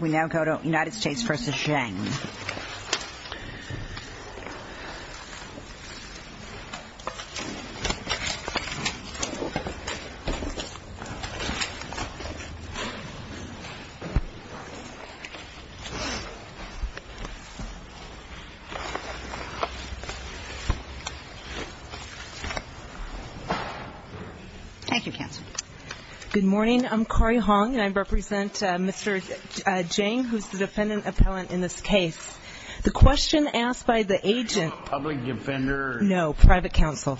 We now go to United States v. Jiang. Thank you, Councilor. Good morning. I'm Corrie Hong, and I represent Mr. Jiang, who's the defendant appellant in this case. The question asked by the agent... Public defender... No, private counsel.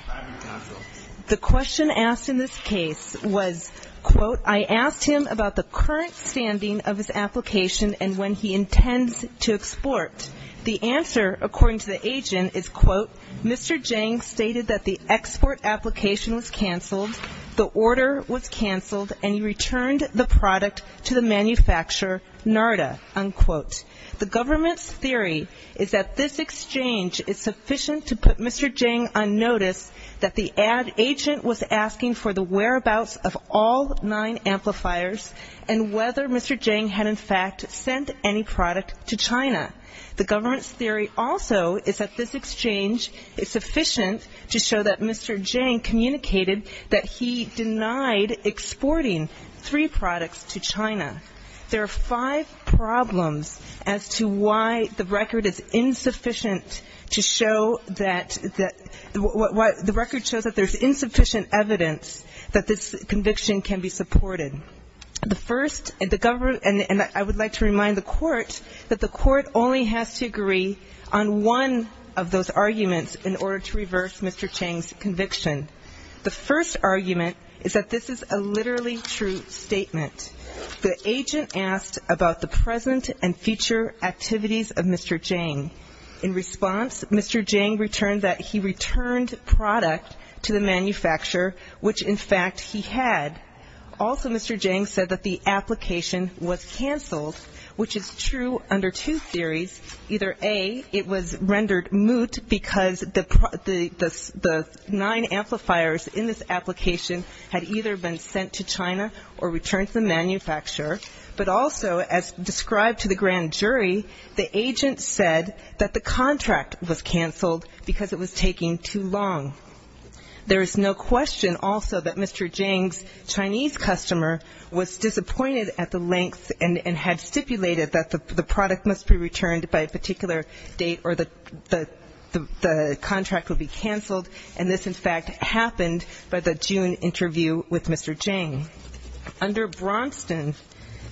The question asked in this case was, quote, I asked him about the current standing of his application and when he intends to export. The answer, according to the agent, is, quote, Mr. Jiang stated that the export application was canceled, the order was canceled, and he returned the product to the manufacturer, Narda, unquote. The government's theory is that this exchange is sufficient to put Mr. Jiang on notice that the ad agent was asking for the whereabouts of all nine amplifiers and whether Mr. Jiang had in fact sent any product to China. The government's theory also is that this exchange is sufficient to show that Mr. Jiang communicated that he denied exporting three products to China. There are five problems as to why the record is insufficient to show that the record shows that there's insufficient evidence that this conviction can be supported. The first, and I would like to remind the court that the court only has to agree on one of those arguments in order to reverse Mr. Jiang's conviction. The first argument is that this is a literally true statement. The agent asked about the present and future activities of Mr. Jiang. In response, Mr. Jiang returned that he returned product to the manufacturer, which in fact he had. Also, Mr. Jiang said that the application was canceled, which is true under two theories. Either A, it was rendered moot because the nine amplifiers in this application had either been sent to China or returned to the manufacturer, but also as described to the grand jury, the agent said that the contract was canceled because it was taking too long. There is no question also that Mr. Jiang's Chinese customer was disappointed at the length and had stipulated that the product must be returned by a particular date or the contract would be canceled, and this in fact happened by the June interview with Mr. Jiang. Under Braunston,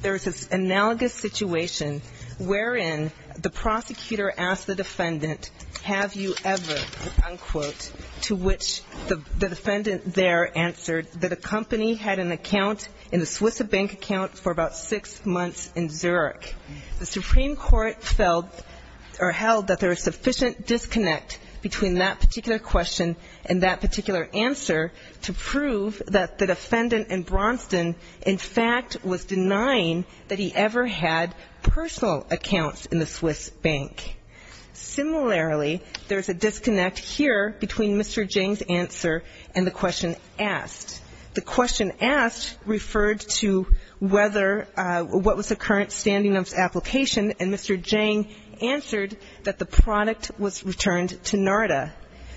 there is this analogous situation wherein the prosecutor asked the defendant, have you ever, unquote, to which the defendant there answered that a company had an account in the Swiss bank account for about six months in Zurich. The Supreme Court held that there was sufficient disconnect between that particular question and that particular answer to prove that the defendant in Braunston, in fact, was denying that he ever had personal accounts in the Swiss bank. Similarly, there is a disconnect here between Mr. Jiang's answer and the question asked. The question asked referred to whether or what was the current standing of the application, and Mr. Jiang answered that the product was returned to NARDA.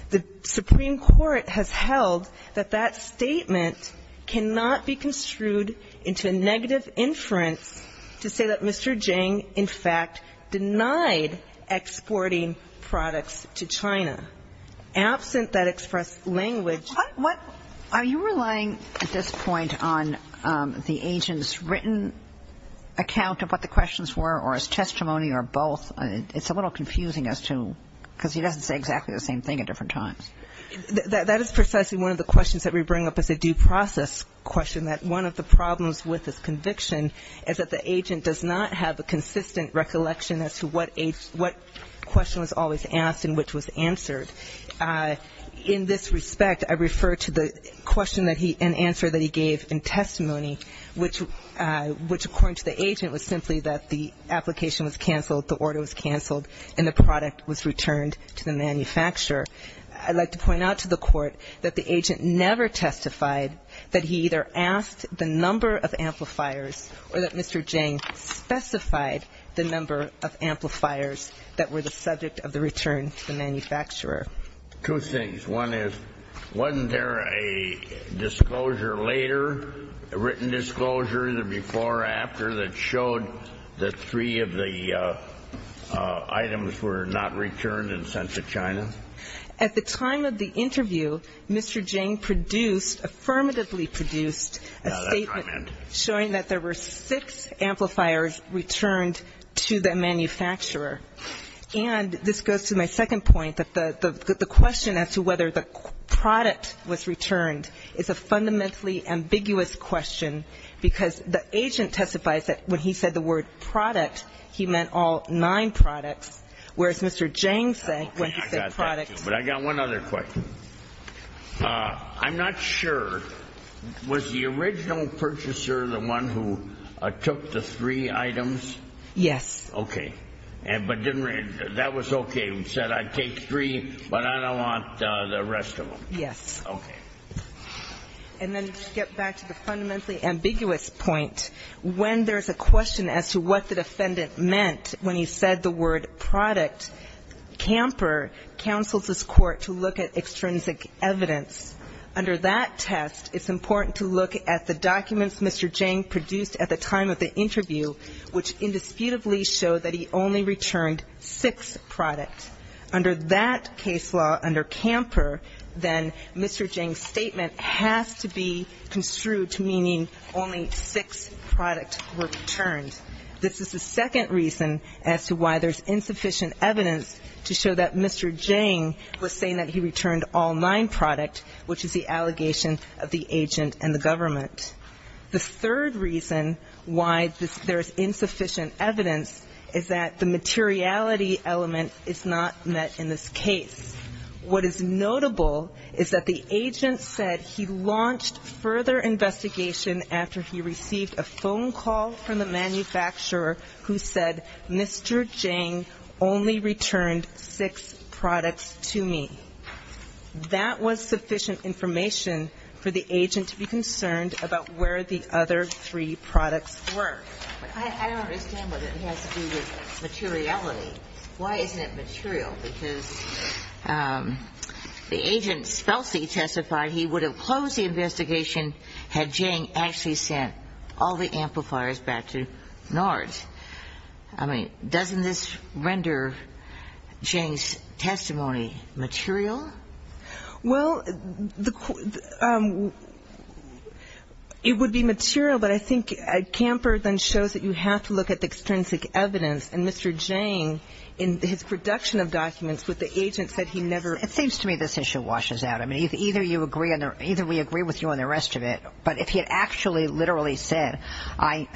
The Supreme Court has held that that statement cannot be construed into a negative inference to say that Mr. Jiang, in fact, denied exporting products to China. Absent that expressed language to the court. Kagan. Are you relying at this point on the agent's written account of what the questions were or his testimony or both? It's a little confusing as to, because he doesn't say exactly the same thing at different times. That is precisely one of the questions that we bring up as a due process question, that one of the problems with this conviction is that the agent does not have a consistent recollection as to what question was always asked and which was answered. In this respect, I refer to the question and answer that he gave in testimony, which, according to the agent, was simply that the application was canceled, the order was canceled, and the product was returned to the manufacturer. I'd like to point out to the court that the agent never testified that he either asked the number of amplifiers or that Mr. Jiang specified the number of amplifiers that were the subject of the return to the manufacturer. Two things. One is, wasn't there a disclosure later, a written disclosure, the before or after, that showed that three of the items were not returned and sent to China? At the time of the interview, Mr. Jiang produced, affirmatively produced, a statement showing that there were six amplifiers returned to the manufacturer. And this goes to my second point, that the question as to whether the product was returned is a fundamentally ambiguous question, because the agent testifies that when he said the word product, he meant all nine products, whereas Mr. Jiang said when he said product. But I got one other question. I'm not sure. Was the original purchaser the one who took the three items? Yes. Okay. But that was okay. He said I'd take three, but I don't want the rest of them. Yes. Okay. And then to get back to the fundamentally ambiguous point, when there's a question as to what the defendant meant when he said the word product, Camper counsels this Court to look at extrinsic evidence. Under that test, it's important to look at the documents Mr. Jiang produced at the time of the interview, which indisputably show that he only returned six products. Under that case law, under Camper, then Mr. Jiang's statement has to be construed meaning only six products were returned. This is the second reason as to why there's insufficient evidence to show that Mr. Jiang was saying that he returned all nine products, which is the allegation of the agent and the government. The third reason why there is insufficient evidence is that the materiality element is not met in this case. What is notable is that the agent said he launched further investigation after he received a phone call from the manufacturer who said, Mr. Jiang only returned six products to me. That was sufficient information for the agent to be concerned about where the other three products were. I don't understand what it has to do with materiality. Why isn't it material? Because the agent testified he would have closed the investigation had Jiang actually sent all the amplifiers back to NARS. I mean, doesn't this render Jiang's testimony material? Well, it would be material, but I think Camper then shows that you have to look at the It seems to me this issue washes out. I mean, either we agree with you on the rest of it, but if he had actually literally said, I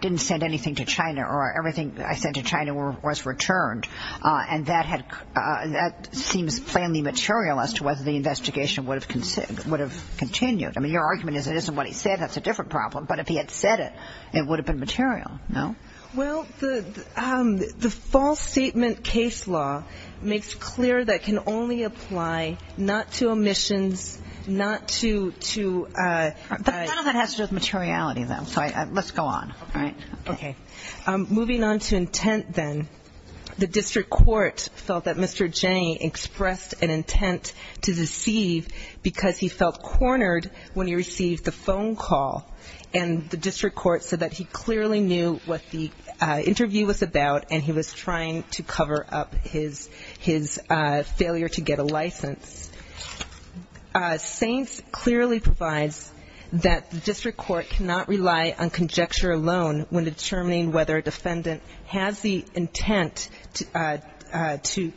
didn't send anything to China or everything I sent to China was returned, and that seems plainly material as to whether the investigation would have continued. I mean, your argument is it isn't what he said. That's a different problem. But if he had said it, it would have been material, no? Well, the false statement case law makes clear that can only apply not to omissions, not to None of that has to do with materiality, though. So let's go on. All right. Okay. Moving on to intent then, the district court felt that Mr. Jiang expressed an intent to deceive because he felt cornered when he received the phone call. And the district court said that he clearly knew what the interview was about, and he was trying to cover up his failure to get a license. Saints clearly provides that the district court cannot rely on conjecture alone when determining whether a defendant has the intent to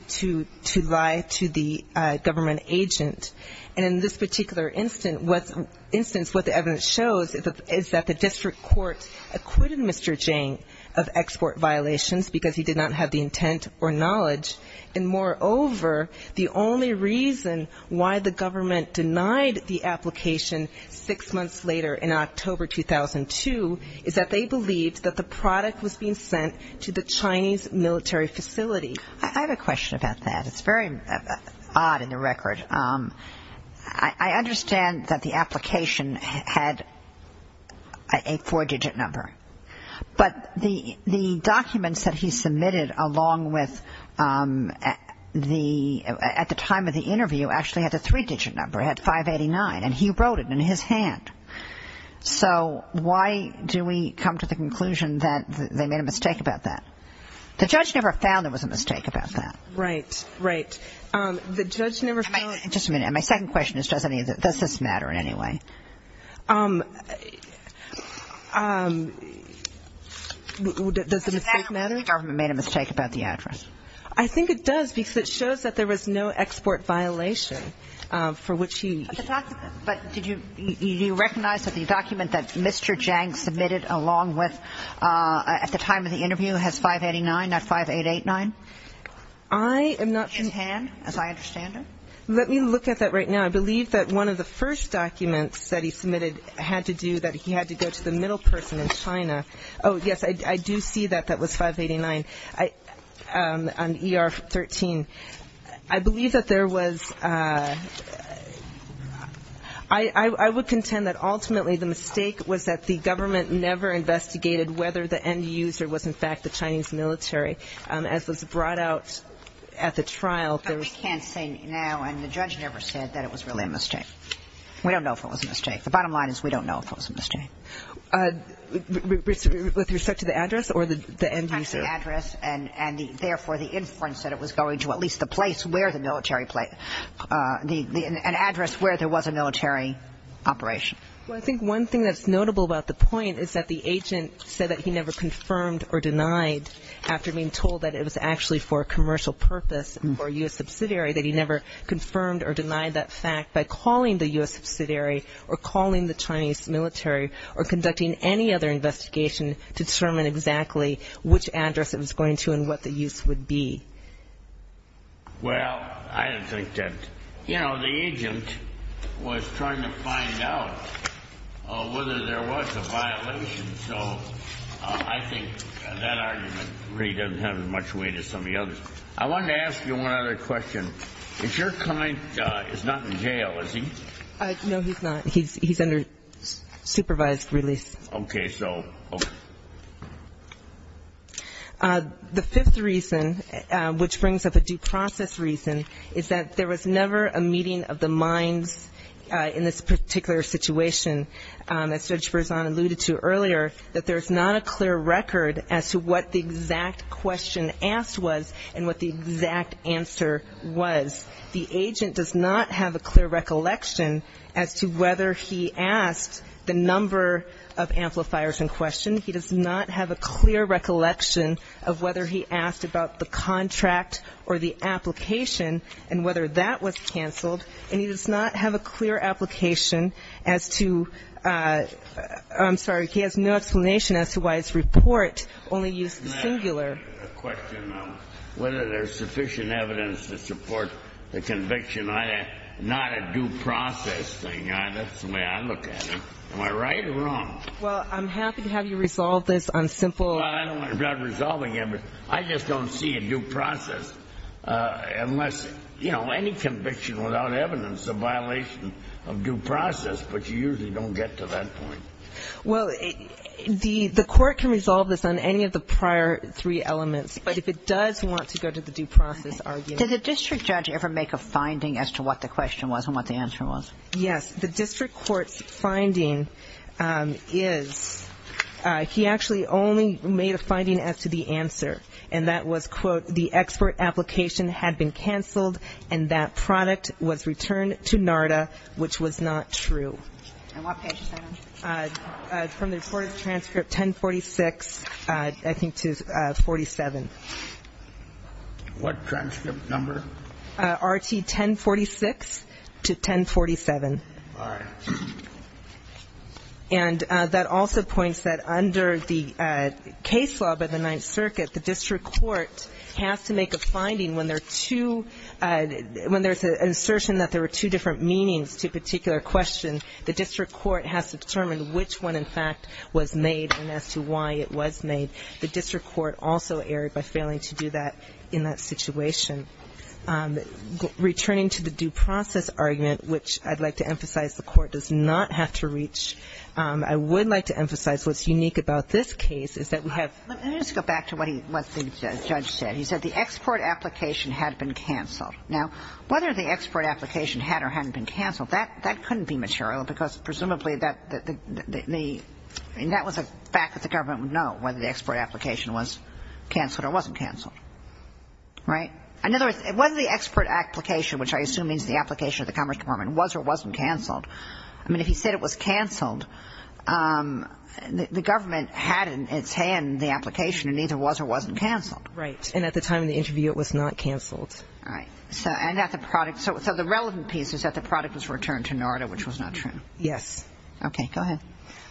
lie to the government agent. And in this particular instance, what the evidence shows is that the district court acquitted Mr. Jiang of export violations because he did not have the intent or knowledge. And moreover, the only reason why the government denied the application six months later in October 2002 is that they believed that the product was being sent to the Chinese military facility. I have a question about that. It's very odd in the record. I understand that the application had a four-digit number, but the documents that he submitted along with the at the time of the interview actually had a three-digit number. It had 589, and he wrote it in his hand. So why do we come to the conclusion that they made a mistake about that? The judge never found there was a mistake about that. Right, right. The judge never found. Just a minute. My second question is does this matter in any way? Does the mistake matter? The government made a mistake about the address. I think it does because it shows that there was no export violation for which he. But did you recognize that the document that Mr. Jiang submitted along with at the time of the interview has 589, not 5889? I am not. In hand, as I understand it. Let me look at that right now. I believe that one of the first documents that he submitted had to do that he had to go to the middle person in China. Oh, yes, I do see that that was 589 on ER-13. I believe that there was. I would contend that ultimately the mistake was that the government never investigated whether the end user was, in fact, the Chinese military as was brought out at the trial. I can't say now, and the judge never said that it was really a mistake. We don't know if it was a mistake. The bottom line is we don't know if it was a mistake. With respect to the address or the end user? The address and, therefore, the inference that it was going to at least the place where the military, an address where there was a military operation. Well, I think one thing that's notable about the point is that the agent said that he never confirmed or denied after being told that it was actually for a commercial purpose or a U.S. subsidiary, that he never confirmed or denied that fact by calling the U.S. subsidiary or calling the Chinese military or conducting any other investigation to determine exactly which address it was going to and what the use would be. Well, I don't think that. You know, the agent was trying to find out whether there was a violation, so I think that argument really doesn't have as much weight as some of the others. I wanted to ask you one other question. If your client is not in jail, is he? No, he's not. He's under supervised release. Okay, so. The fifth reason, which brings up a due process reason, is that there was never a meeting of the minds in this particular situation. As Judge Berzon alluded to earlier, that there's not a clear record as to what the exact question asked was and what the exact answer was. The agent does not have a clear recollection as to whether he asked the number of amplifiers in question. He does not have a clear recollection of whether he asked about the contract or the application and whether that was canceled, and he does not have a clear application as to ‑‑ I'm sorry, he has no explanation as to why his report only used the singular. I have a question on whether there's sufficient evidence to support the conviction, not a due process thing. That's the way I look at it. Am I right or wrong? Well, I'm happy to have you resolve this on simple ‑‑ I'm not resolving it, but I just don't see a due process unless, you know, any conviction without evidence is a violation of due process, but you usually don't get to that point. Well, the court can resolve this on any of the prior three elements, but if it does want to go to the due process argument. Did the district judge ever make a finding as to what the question was and what the answer was? Yes. The district court's finding is he actually only made a finding as to the answer, and that was, quote, the expert application had been canceled and that product was returned to NARDA, which was not true. And what page is that on? From the reported transcript, 1046, I think to 47. What transcript number? RT 1046 to 1047. All right. And that also points that under the case law by the Ninth Circuit, the district court has to make a finding when there are two ‑‑ the district court has to determine which one, in fact, was made and as to why it was made. The district court also erred by failing to do that in that situation. Returning to the due process argument, which I'd like to emphasize the court does not have to reach, I would like to emphasize what's unique about this case is that we have ‑‑ Let me just go back to what the judge said. He said the expert application had been canceled. Now, whether the expert application had or hadn't been canceled, that couldn't be material because presumably that the ‑‑ and that was a fact that the government would know, whether the expert application was canceled or wasn't canceled. Right? In other words, whether the expert application, which I assume means the application of the Commerce Department, was or wasn't canceled, I mean, if he said it was canceled, the government had in its hand the application and neither was or wasn't canceled. Right. And at the time of the interview, it was not canceled. Right. So the relevant piece is that the product was returned to NARDA, which was not true. Yes. Okay. Go ahead.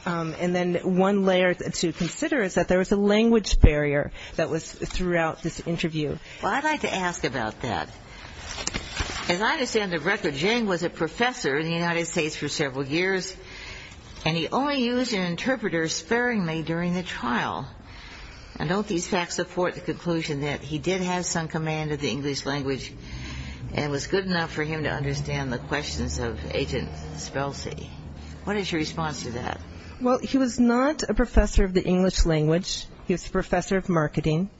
And then one layer to consider is that there was a language barrier that was throughout this interview. Well, I'd like to ask about that. As I understand the record, Jane was a professor in the United States for several years and he only used an interpreter sparingly during the trial. And don't these facts support the conclusion that he did have some command of the English language and was good enough for him to understand the questions of Agent Spelsy? What is your response to that? Well, he was not a professor of the English language. He was a professor of marketing.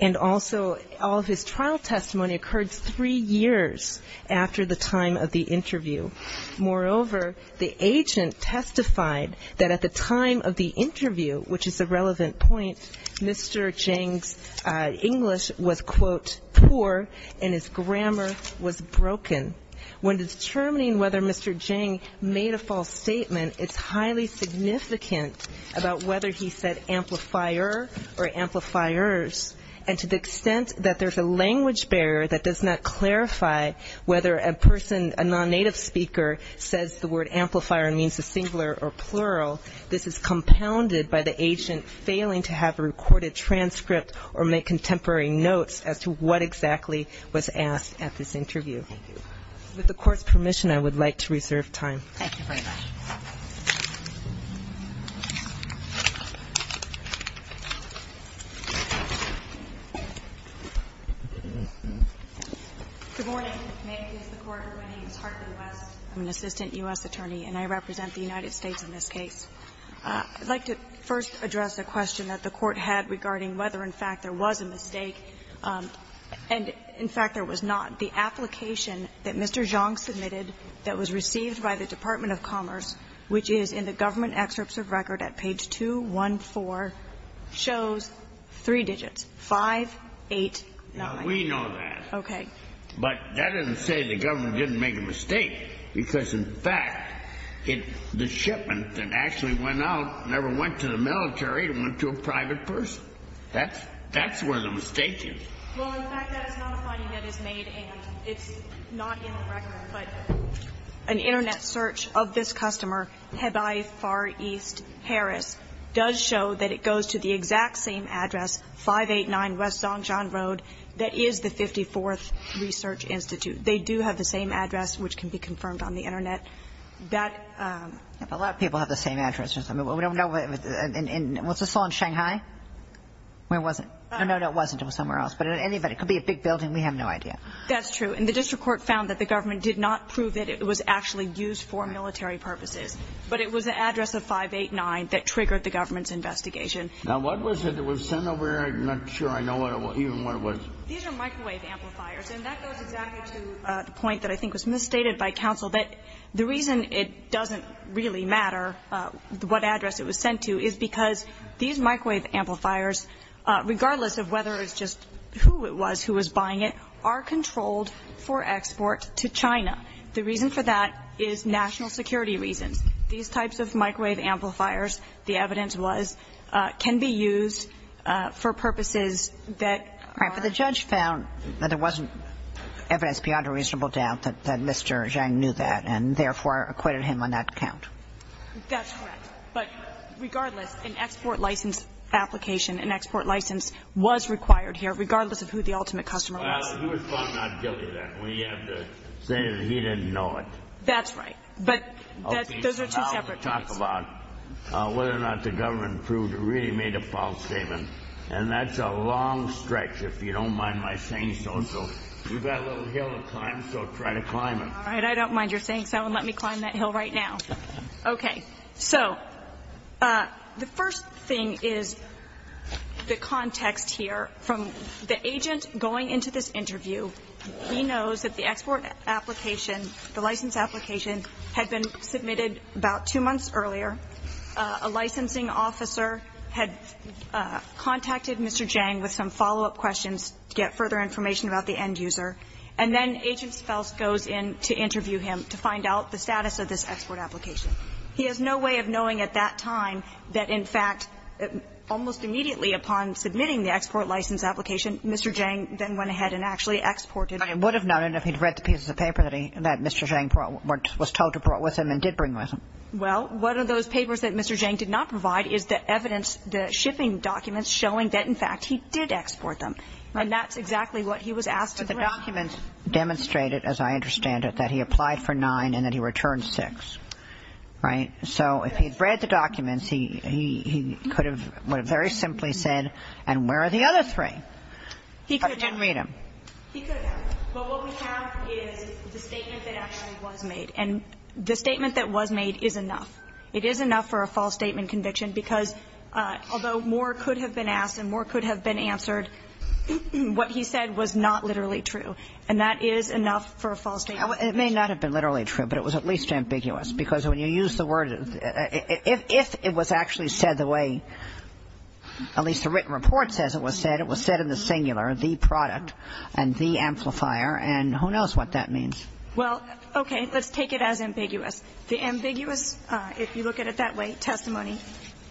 And also, all of his trial testimony occurred three years after the time of the interview. Moreover, the agent testified that at the time of the interview, which is a relevant point, Mr. Zhang's English was, quote, poor and his grammar was broken. When determining whether Mr. Zhang made a false statement, it's highly significant about whether he said amplifier or amplifiers. And to the extent that there's a language barrier that does not clarify whether a person, a native speaker, says the word amplifier means a singular or plural, this is compounded by the agent failing to have a recorded transcript or make contemporary notes as to what exactly was asked at this interview. With the Court's permission, I would like to reserve time. Thank you very much. Ms. Hartley-West. I'm an assistant U.S. attorney, and I represent the United States in this case. I'd like to first address a question that the Court had regarding whether, in fact, there was a mistake. And, in fact, there was not. The application that Mr. Zhang submitted that was received by the Department of Commerce, which is in the government excerpts of record at page 214, shows three digits, 5, 8, 9. Now, we know that. Okay. But that doesn't say the government didn't make a mistake, because, in fact, the shipment that actually went out never went to the military. It went to a private person. That's where the mistake is. Well, in fact, that is not a finding that is made, and it's not in the record. But an Internet search of this customer, Hebei Far East, Paris, does show that it goes to the exact same address, 589 West Zongjiang Road. That is the 54th Research Institute. They do have the same address, which can be confirmed on the Internet. A lot of people have the same address. Was this all in Shanghai? No, it wasn't. It could be a big building. We have no idea. That's true. And the district court found that the government did not prove that it was actually used for military purposes, but it was an address of 589 that triggered the government's investigation. Now, what was it that was sent over here? I'm not sure I know even what it was. These are microwave amplifiers, and that goes exactly to the point that I think was misstated by counsel, that the reason it doesn't really matter what address it was sent to is because these microwave amplifiers, regardless of whether it's just who it was who was buying it, are controlled for export to China. The reason for that is national security reasons. These types of microwave amplifiers, the evidence was, can be used for purposes that are... But the judge found that there wasn't evidence beyond a reasonable doubt that Mr. Zhang knew that and therefore acquitted him on that account. That's correct. But regardless, an export license application, an export license was required here, regardless of who the ultimate customer was. Well, he was found not guilty of that. We have to say that he didn't know it. That's right. But those are two separate cases. Now we'll talk about whether or not the government proved or really made a false statement. And that's a long stretch, if you don't mind my saying so. So we've got a little hill to climb, so try to climb it. All right. I don't mind your saying so, and let me climb that hill right now. Okay. So the first thing is the context here. From the agent going into this interview, he knows that the export application, the license application, had been submitted about two months earlier. A licensing officer had contacted Mr. Zhang with some follow-up questions to get further information about the end user. And then Agent Fels goes in to interview him to find out the status of this export application. He has no way of knowing at that time that, in fact, almost immediately upon submitting the export license application, Mr. Zhang then went ahead and actually exported it. But he would have known it if he'd read the pieces of paper that he, that Mr. Zhang was told to bring with him and did bring with him. Well, one of those papers that Mr. Zhang did not provide is the evidence, the shipping documents showing that, in fact, he did export them. And that's exactly what he was asked to do. The documents demonstrated, as I understand it, that he applied for nine and that he returned six. Right? So if he'd read the documents, he could have very simply said, and where are the other three? He could have. But he didn't read them. He could have. But what we have is the statement that actually was made. And the statement that was made is enough. It is enough for a false statement conviction, because although more could have been asked and more could have been answered, what he said was not literally true. And that is enough for a false statement conviction. It may not have been literally true, but it was at least ambiguous. Because when you use the word, if it was actually said the way, at least the written report says it was said, it was said in the singular, the product and the amplifier, and who knows what that means. Well, okay. Let's take it as ambiguous. The ambiguous, if you look at it that way, testimony,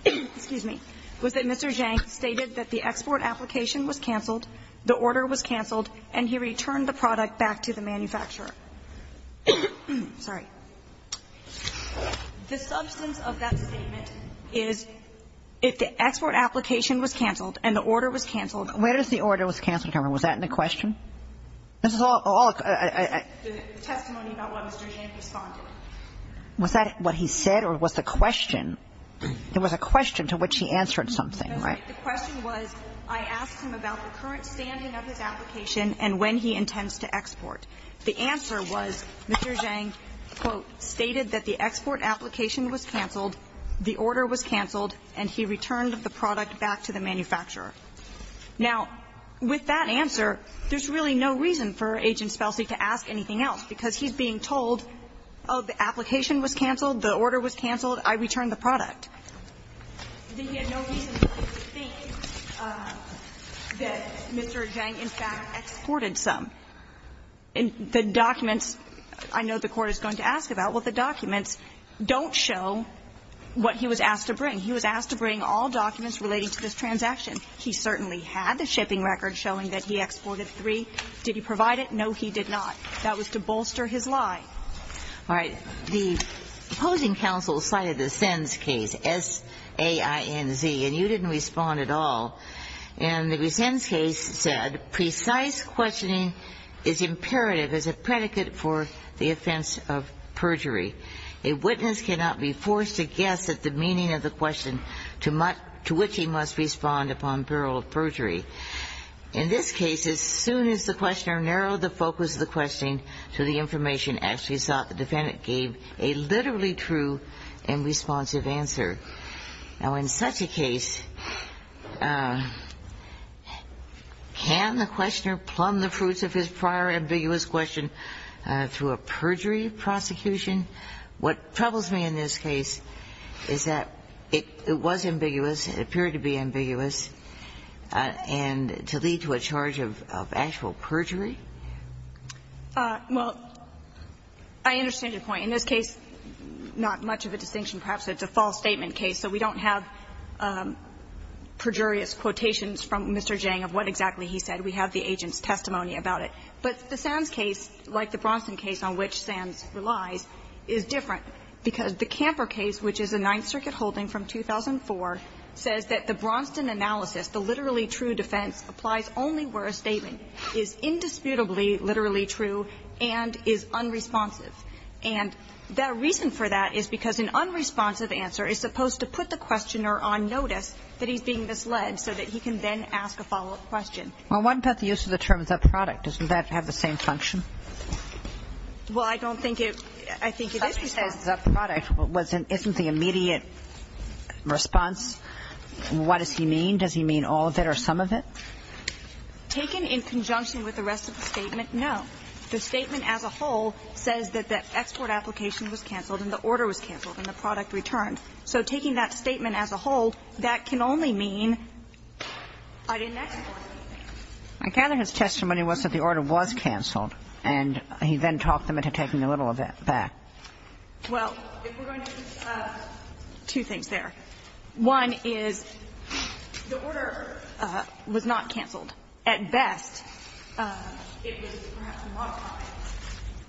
excuse me, was that Mr. Zhang stated that the export application was cancelled, the order was cancelled, and he returned the product back to the manufacturer. Sorry. The substance of that statement is if the export application was cancelled and the order was cancelled. Where does the order was cancelled come from? Was that in the question? This is all a question. The testimony about what Mr. Zhang responded. Was that what he said or was the question? It was a question to which he answered something, right? The question was I asked him about the current standing of his application and when he intends to export. The answer was Mr. Zhang, quote, stated that the export application was cancelled, the order was cancelled, and he returned the product back to the manufacturer. Now, with that answer, there's really no reason for Agent Spelsy to ask anything else, because he's being told, oh, the application was cancelled, the order was cancelled, I returned the product. He had no reason to think that Mr. Zhang, in fact, exported some. The documents, I know the Court is going to ask about, well, the documents don't show what he was asked to bring. He was asked to bring all documents relating to this transaction. He certainly had the shipping record showing that he exported three. Did he provide it? No, he did not. That was to bolster his lie. All right. The opposing counsel cited the Sens case, S-A-I-N-Z, and you didn't respond at all. And the Sens case said precise questioning is imperative as a predicate for the offense of perjury. A witness cannot be forced to guess at the meaning of the question to which he must respond upon burial of perjury. In this case, as soon as the questioner narrowed the focus of the questioning to the information asked, he thought the defendant gave a literally true and responsive answer. Now, in such a case, can the questioner plumb the fruits of his prior ambiguous question through a perjury prosecution? What troubles me in this case is that it was ambiguous. It appeared to be ambiguous and to lead to a charge of actual perjury. Well, I understand your point. In this case, not much of a distinction. Perhaps it's a false statement case, so we don't have perjurious quotations from Mr. Jang of what exactly he said. We have the agent's testimony about it. But the Sens case, like the Bronson case on which Sens relies, is different because the Camper case, which is a Ninth Circuit holding from 2004, says that the Bronson analysis, the literally true defense, applies only where a statement is indisputably literally true and is unresponsive. And the reason for that is because an unresponsive answer is supposed to put the questioner on notice that he's being misled so that he can then ask a follow-up question. Well, what about the use of the terms of product? Doesn't that have the same function? Well, I don't think it – I think it is response. Somebody says the product wasn't – isn't the immediate response. What does he mean? Does he mean all of it or some of it? Taken in conjunction with the rest of the statement, no. The statement as a whole says that the export application was canceled and the order was canceled and the product returned. So taking that statement as a whole, that can only mean I didn't export anything. I gather his testimony was that the order was canceled and he then talked them into taking a little of it back. Well, if we're going to – two things there. One is the order was not canceled. At best, it was perhaps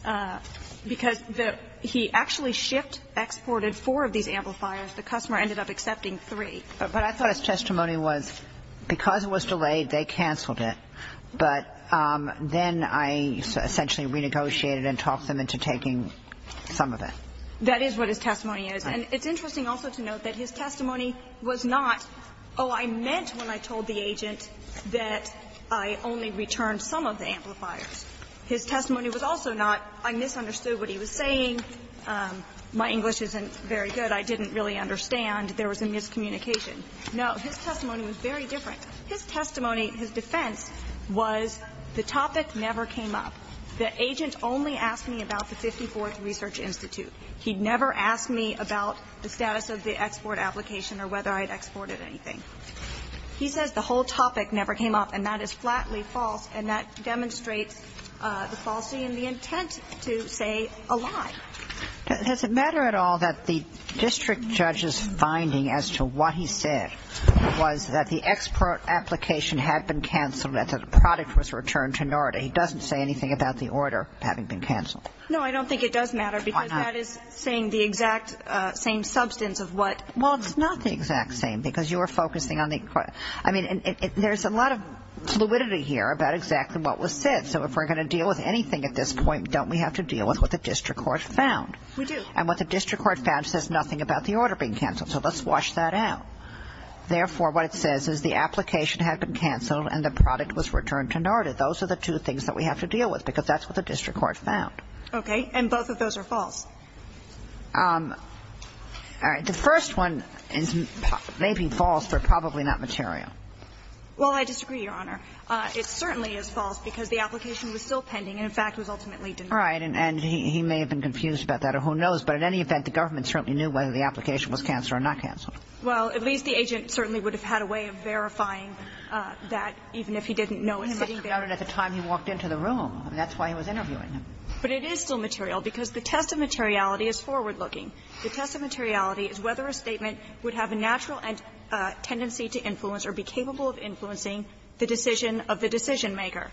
modified because the – he actually shipped, exported four of these amplifiers. The customer ended up accepting three. But I thought his testimony was because it was delayed, they canceled it. But then I essentially renegotiated and talked them into taking some of it. That is what his testimony is. And it's interesting also to note that his testimony was not, oh, I meant when I told the agent that I only returned some of the amplifiers. His testimony was also not, I misunderstood what he was saying. My English isn't very good. I didn't really understand. There was a miscommunication. No, his testimony was very different. His testimony, his defense was the topic never came up. The agent only asked me about the 54th Research Institute. He never asked me about the status of the export application or whether I had exported anything. He says the whole topic never came up, and that is flatly false, and that demonstrates the falsity and the intent to say a lie. Does it matter at all that the district judge's finding as to what he said was that the export application had been canceled, that the product was returned to NORDA? He doesn't say anything about the order having been canceled. No, I don't think it does matter. Why not? Because that is saying the exact same substance of what the court said. Well, it's not the exact same because you are focusing on the court. I mean, there's a lot of fluidity here about exactly what was said. So if we're going to deal with anything at this point, don't we have to deal with what the district court found? We do. And what the district court found says nothing about the order being canceled, so let's wash that out. Therefore, what it says is the application had been canceled and the product was returned to NORDA. Those are the two things that we have to deal with because that's what the district court found. Okay. And both of those are false. All right. The first one may be false, but probably not material. Well, I disagree, Your Honor. It certainly is false because the application was still pending and, in fact, was ultimately denied. All right. And he may have been confused about that, or who knows. But in any event, the government certainly knew whether the application was canceled or not canceled. Well, at least the agent certainly would have had a way of verifying that even if he didn't know it's sitting there. Well, he must have known it at the time he walked into the room. That's why he was interviewing him. But it is still material because the test of materiality is forward-looking. The test of materiality is whether a statement would have a natural tendency to influence or be capable of influencing the decision of the decisionmaker.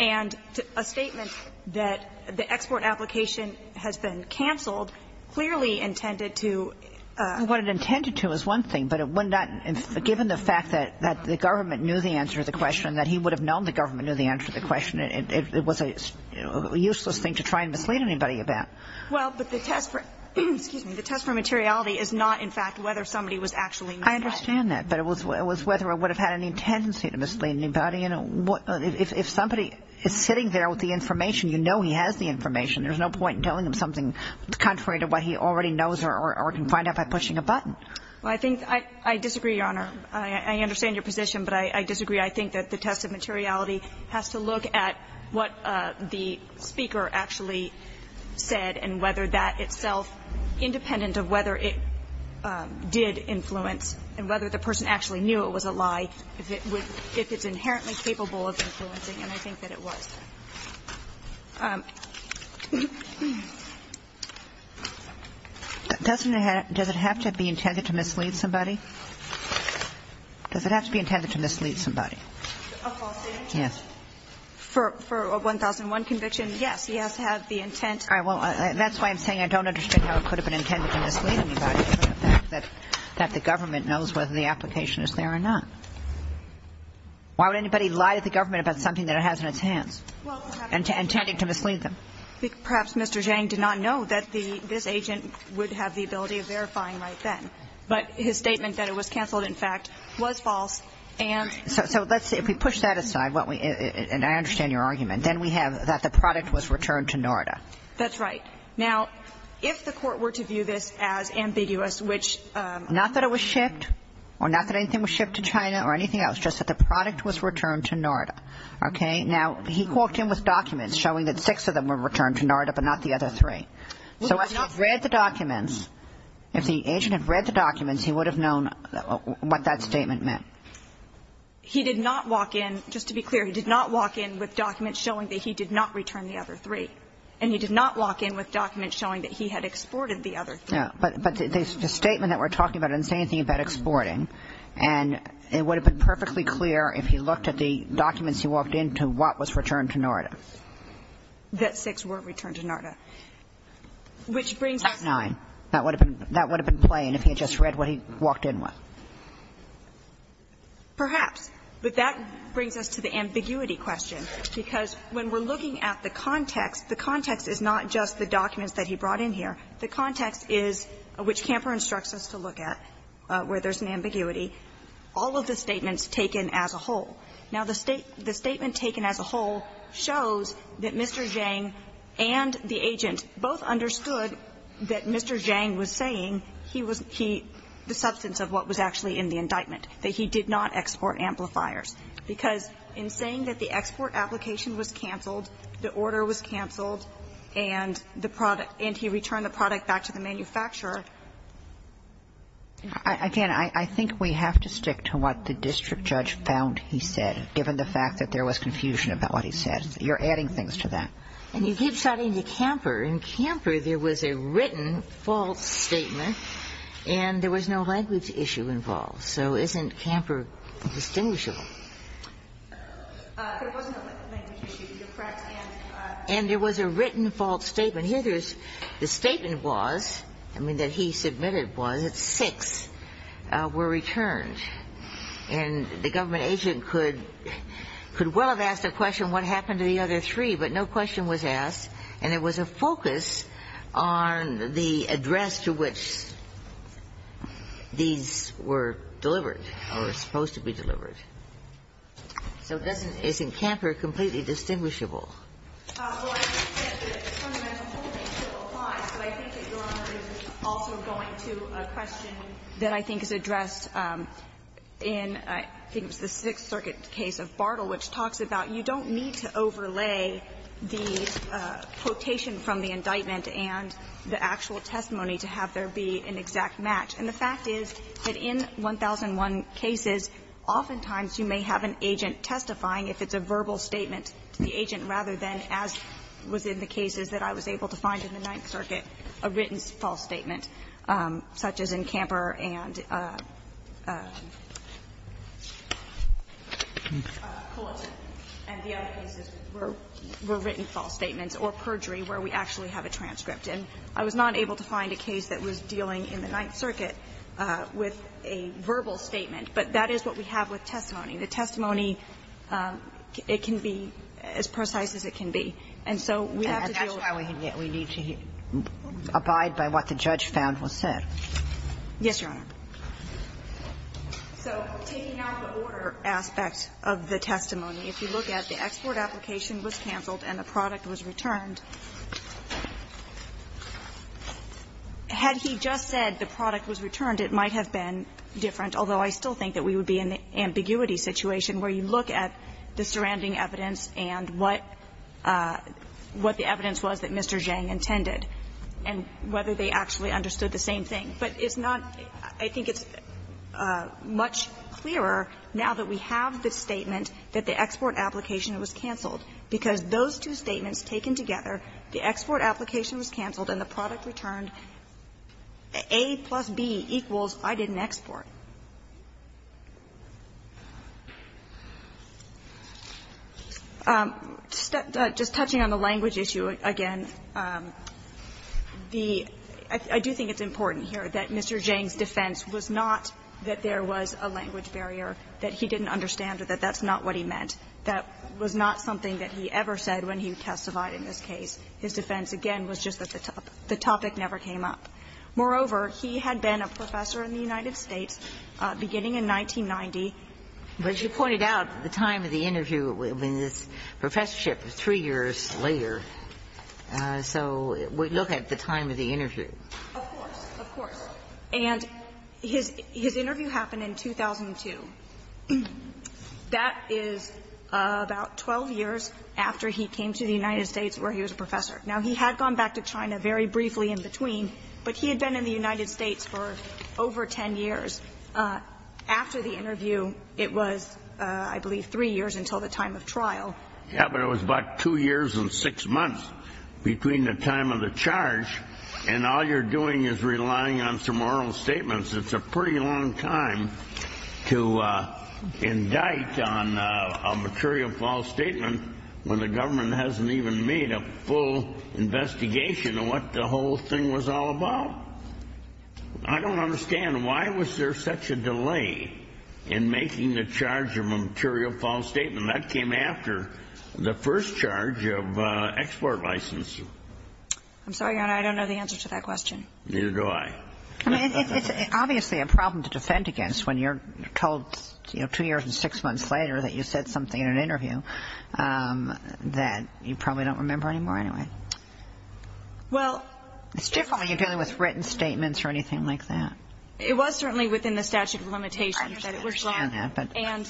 And a statement that the export application has been canceled clearly intended to ---- What it intended to is one thing, but it would not ---- given the fact that the government knew the answer to the question, that he would have known the government knew the answer to the question, it was a useless thing to try and mislead anybody about. Well, but the test for ---- excuse me. The test for materiality is not, in fact, whether somebody was actually misled. I understand that. But it was whether it would have had any tendency to mislead anybody. Well, you know, if somebody is sitting there with the information, you know he has the information. There's no point in telling him something contrary to what he already knows or can find out by pushing a button. Well, I think ---- I disagree, Your Honor. I understand your position, but I disagree. I think that the test of materiality has to look at what the speaker actually said and whether that itself, independent of whether it did influence and whether the person actually knew it was a lie, if it would ---- if it's inherently capable of influencing. And I think that it was. Does it have to be intended to mislead somebody? Does it have to be intended to mislead somebody? A false statement? Yes. For a 1001 conviction, yes. He has to have the intent. All right. Well, that's why I'm saying I don't understand how it could have been intended to mislead anybody from the fact that the government knows whether the application is there or not. Why would anybody lie to the government about something that it has in its hands and intending to mislead them? Perhaps Mr. Zhang did not know that the ---- this agent would have the ability of verifying right then. But his statement that it was canceled, in fact, was false and ---- So let's say if we push that aside, what we ---- and I understand your argument, then we have that the product was returned to NORDA. That's right. Now, if the Court were to view this as ambiguous, which ---- Not that it was shipped or not that anything was shipped to China or anything else, just that the product was returned to NORDA. Okay? Now, he walked in with documents showing that six of them were returned to NORDA but not the other three. So if he'd read the documents, if the agent had read the documents, he would have known what that statement meant. He did not walk in, just to be clear, he did not walk in with documents showing that he did not return the other three. And he did not walk in with documents showing that he had exported the other three. Yeah. But the statement that we're talking about doesn't say anything about exporting. And it would have been perfectly clear if he looked at the documents he walked in to what was returned to NORDA. That six were returned to NORDA. Which brings us to ---- Nine. That would have been plain if he had just read what he walked in with. Perhaps. But that brings us to the ambiguity question. Because when we're looking at the context, the context is not just the documents that he brought in here. The context is, which Camper instructs us to look at, where there's an ambiguity, all of the statements taken as a whole. Now, the statement taken as a whole shows that Mr. Zhang and the agent both understood that Mr. Zhang was saying he was the substance of what was actually in the indictment, that he did not export amplifiers. Because in saying that the export application was canceled, the order was canceled, and the product ---- and he returned the product back to the manufacturer. Again, I think we have to stick to what the district judge found he said, given the fact that there was confusion about what he said. You're adding things to that. And he keeps adding to Camper. In Camper, there was a written false statement and there was no language issue involved. So isn't Camper distinguishable? But it wasn't a language issue. You're correct. And there was a written false statement. Here there's the statement was, I mean, that he submitted was that six were returned. And the government agent could well have asked a question, what happened to the other three, but no question was asked. And there was a focus on the address to which these were delivered or were supposed to be delivered. So it doesn't ---- isn't Camper completely distinguishable? Well, I think that the fundamental holding still applies, but I think that Your Honor is also going to a question that I think is addressed in, I think it was the Sixth Circuit case of Bartle, which talks about you don't need to overlay the quotation from the indictment and the actual testimony to have there be an exact match. And the fact is that in 1001 cases, oftentimes you may have an agent testifying if it's a verbal statement to the agent, rather than, as was in the cases that I was able to find in the Ninth Circuit, a written false statement, such as in Camper and Culliton and the other cases where there were written false statements or perjury where we actually have a transcript. And I was not able to find a case that was dealing in the Ninth Circuit where there was an agent testifying with a verbal statement. But that is what we have with testimony. The testimony, it can be as precise as it can be. And so we have to deal with ---- And that's why we need to abide by what the judge found was said. Yes, Your Honor. So taking out the order aspect of the testimony, if you look at the export application was canceled and the product was returned, had he just said the product was returned, it might have been different, although I still think that we would be in the ambiguity situation where you look at the surrounding evidence and what the evidence was that Mr. Zhang intended and whether they actually understood the same thing. But it's not, I think it's much clearer now that we have the statement that the export application was canceled, because those two statements taken together, the export application was canceled and the product returned, A plus B equals I didn't export. Just touching on the language issue again, the ---- I do think it's important here that Mr. Zhang's defense was not that there was a language barrier, that he didn't understand or that that's not what he meant. That was not something that he ever said when he testified in this case. His defense, again, was just that the topic never came up. Moreover, he had been a professor in the United States beginning in 1990. But you pointed out the time of the interview, I mean, this professorship was three years later. So we look at the time of the interview. Of course. Of course. And his interview happened in 2002. That is about 12 years after he came to the United States where he was a professor. Now, he had gone back to China very briefly in between, but he had been in the United States for over 10 years. After the interview, it was, I believe, three years until the time of trial. Yes, but it was about two years and six months between the time of the charge. And all you're doing is relying on some oral statements. It's a pretty long time to indict on a material false statement when the government hasn't even made a full investigation of what the whole thing was all about. I don't understand. Why was there such a delay in making the charge of a material false statement? That came after the first charge of export licensing. I'm sorry, Your Honor, I don't know the answer to that question. Neither do I. I mean, it's obviously a problem to defend against when you're told, you know, two years and six months later that you said something in an interview that you probably don't remember anymore anyway. Well. It's different when you're dealing with written statements or anything like that. It was certainly within the statute of limitations that it was drawn. And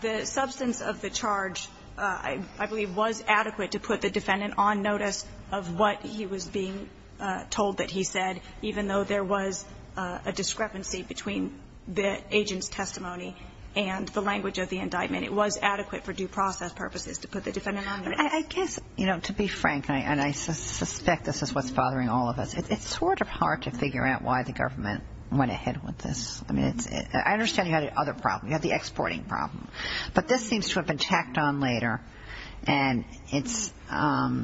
the substance of the charge, I believe, was adequate to put the defendant on notice of what he was being told that he said, even though there was a discrepancy between the agent's testimony and the language of the indictment. It was adequate for due process purposes to put the defendant on notice. I guess, you know, to be frank, and I suspect this is what's bothering all of us, it's sort of hard to figure out why the government went ahead with this. I mean, I understand you had other problems. You had the exporting problem. But this seems to have been tacked on later. And it's at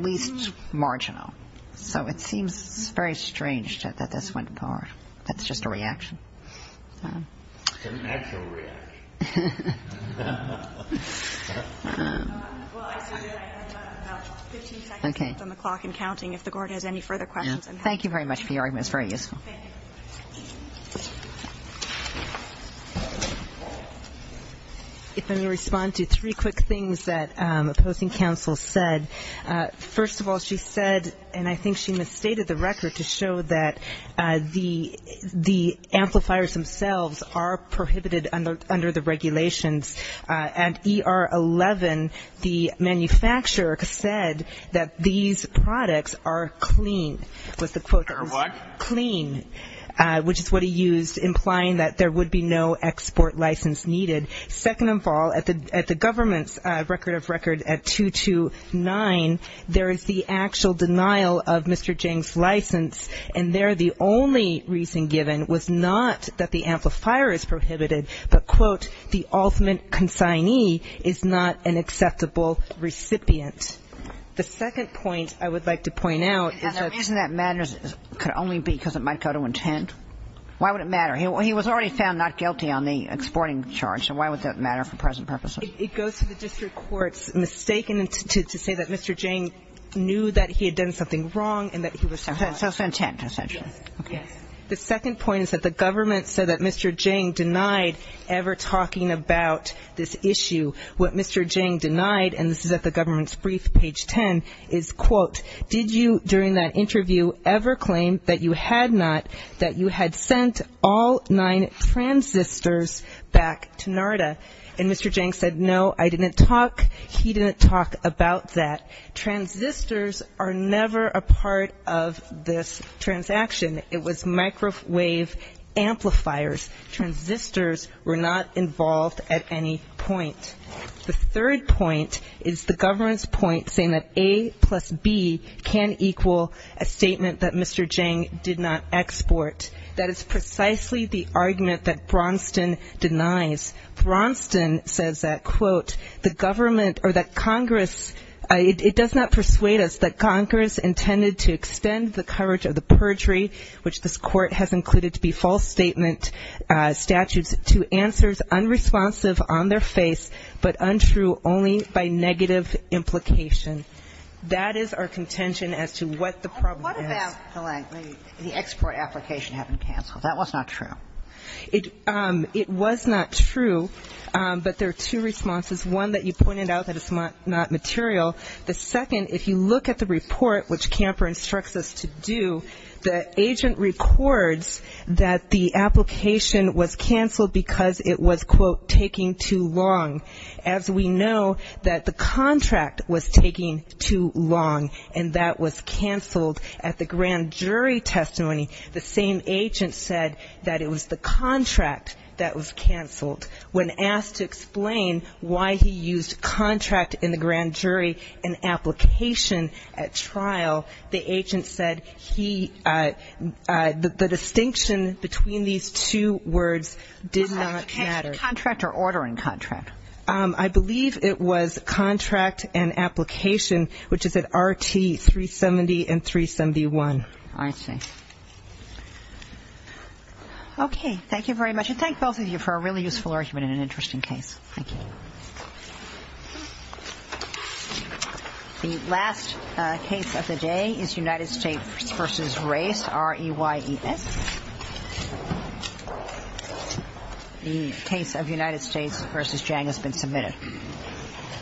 least marginal. So it seems very strange that this went forward. That's just a reaction. It's an actual reaction. Well, I assume that I have about 15 seconds left on the clock in counting. If the court has any further questions. Thank you very much for your argument. It's very useful. Thank you. If I may respond to three quick things that opposing counsel said. First of all, she said, and I think she misstated the record to show that the amplifiers themselves are prohibited under the regulations. At ER 11, the manufacturer said that these products are clean, was the quote. Are what? Clean, which is what he used, implying that there would be no export license needed. Second of all, at the government's record of record at 229, there is the actual denial of Mr. Jing's license. And there, the only reason given was not that the amplifier is prohibited, but quote, the ultimate consignee is not an acceptable recipient. The second point I would like to point out is that- And the reason that matters could only be because of my code of intent. Why would it matter? He was already found not guilty on the exporting charge, so why would that matter for present purposes? It goes to the district court's mistake in it to say that Mr. Jing knew that he had done something wrong and that he was- So intent, essentially. Okay. The second point is that the government said that Mr. Jing denied ever talking about this issue. What Mr. Jing denied, and this is at the government's brief, page 10, is quote, Did you, during that interview, ever claim that you had not, that you had sent all nine transistors back to NARDA? And Mr. Jing said, no, I didn't talk, he didn't talk about that. Transistors are never a part of this transaction. It was microwave amplifiers. Transistors were not involved at any point. The third point is the government's point saying that A plus B can equal a statement that Mr. Jing did not export. That is precisely the argument that Braunston denies. Braunston says that, quote, the government, or that Congress, it does not persuade us that Congress intended to extend the courage of the perjury, which this court has included to be false statement statutes, to answers unresponsive on their face, but untrue only by negative implication. That is our contention as to what the problem is. What about the export application having canceled? That was not true. It was not true, but there are two responses. One, that you pointed out that it's not material. The second, if you look at the report, which Camper instructs us to do, the agent records that the application was canceled because it was, quote, taking too long. As we know, that the contract was taking too long, and that was canceled at the grand jury testimony. The same agent said that it was the contract that was canceled. When asked to explain why he used contract in the grand jury and the distinction between these two words did not matter. Contract or order in contract? I believe it was contract and application, which is at RT 370 and 371. I see. Okay, thank you very much. And thank both of you for a really useful argument and an interesting case. Thank you. The last case of the day is United States versus Race, R-E-Y-E-S. The case of United States versus Jang has been submitted.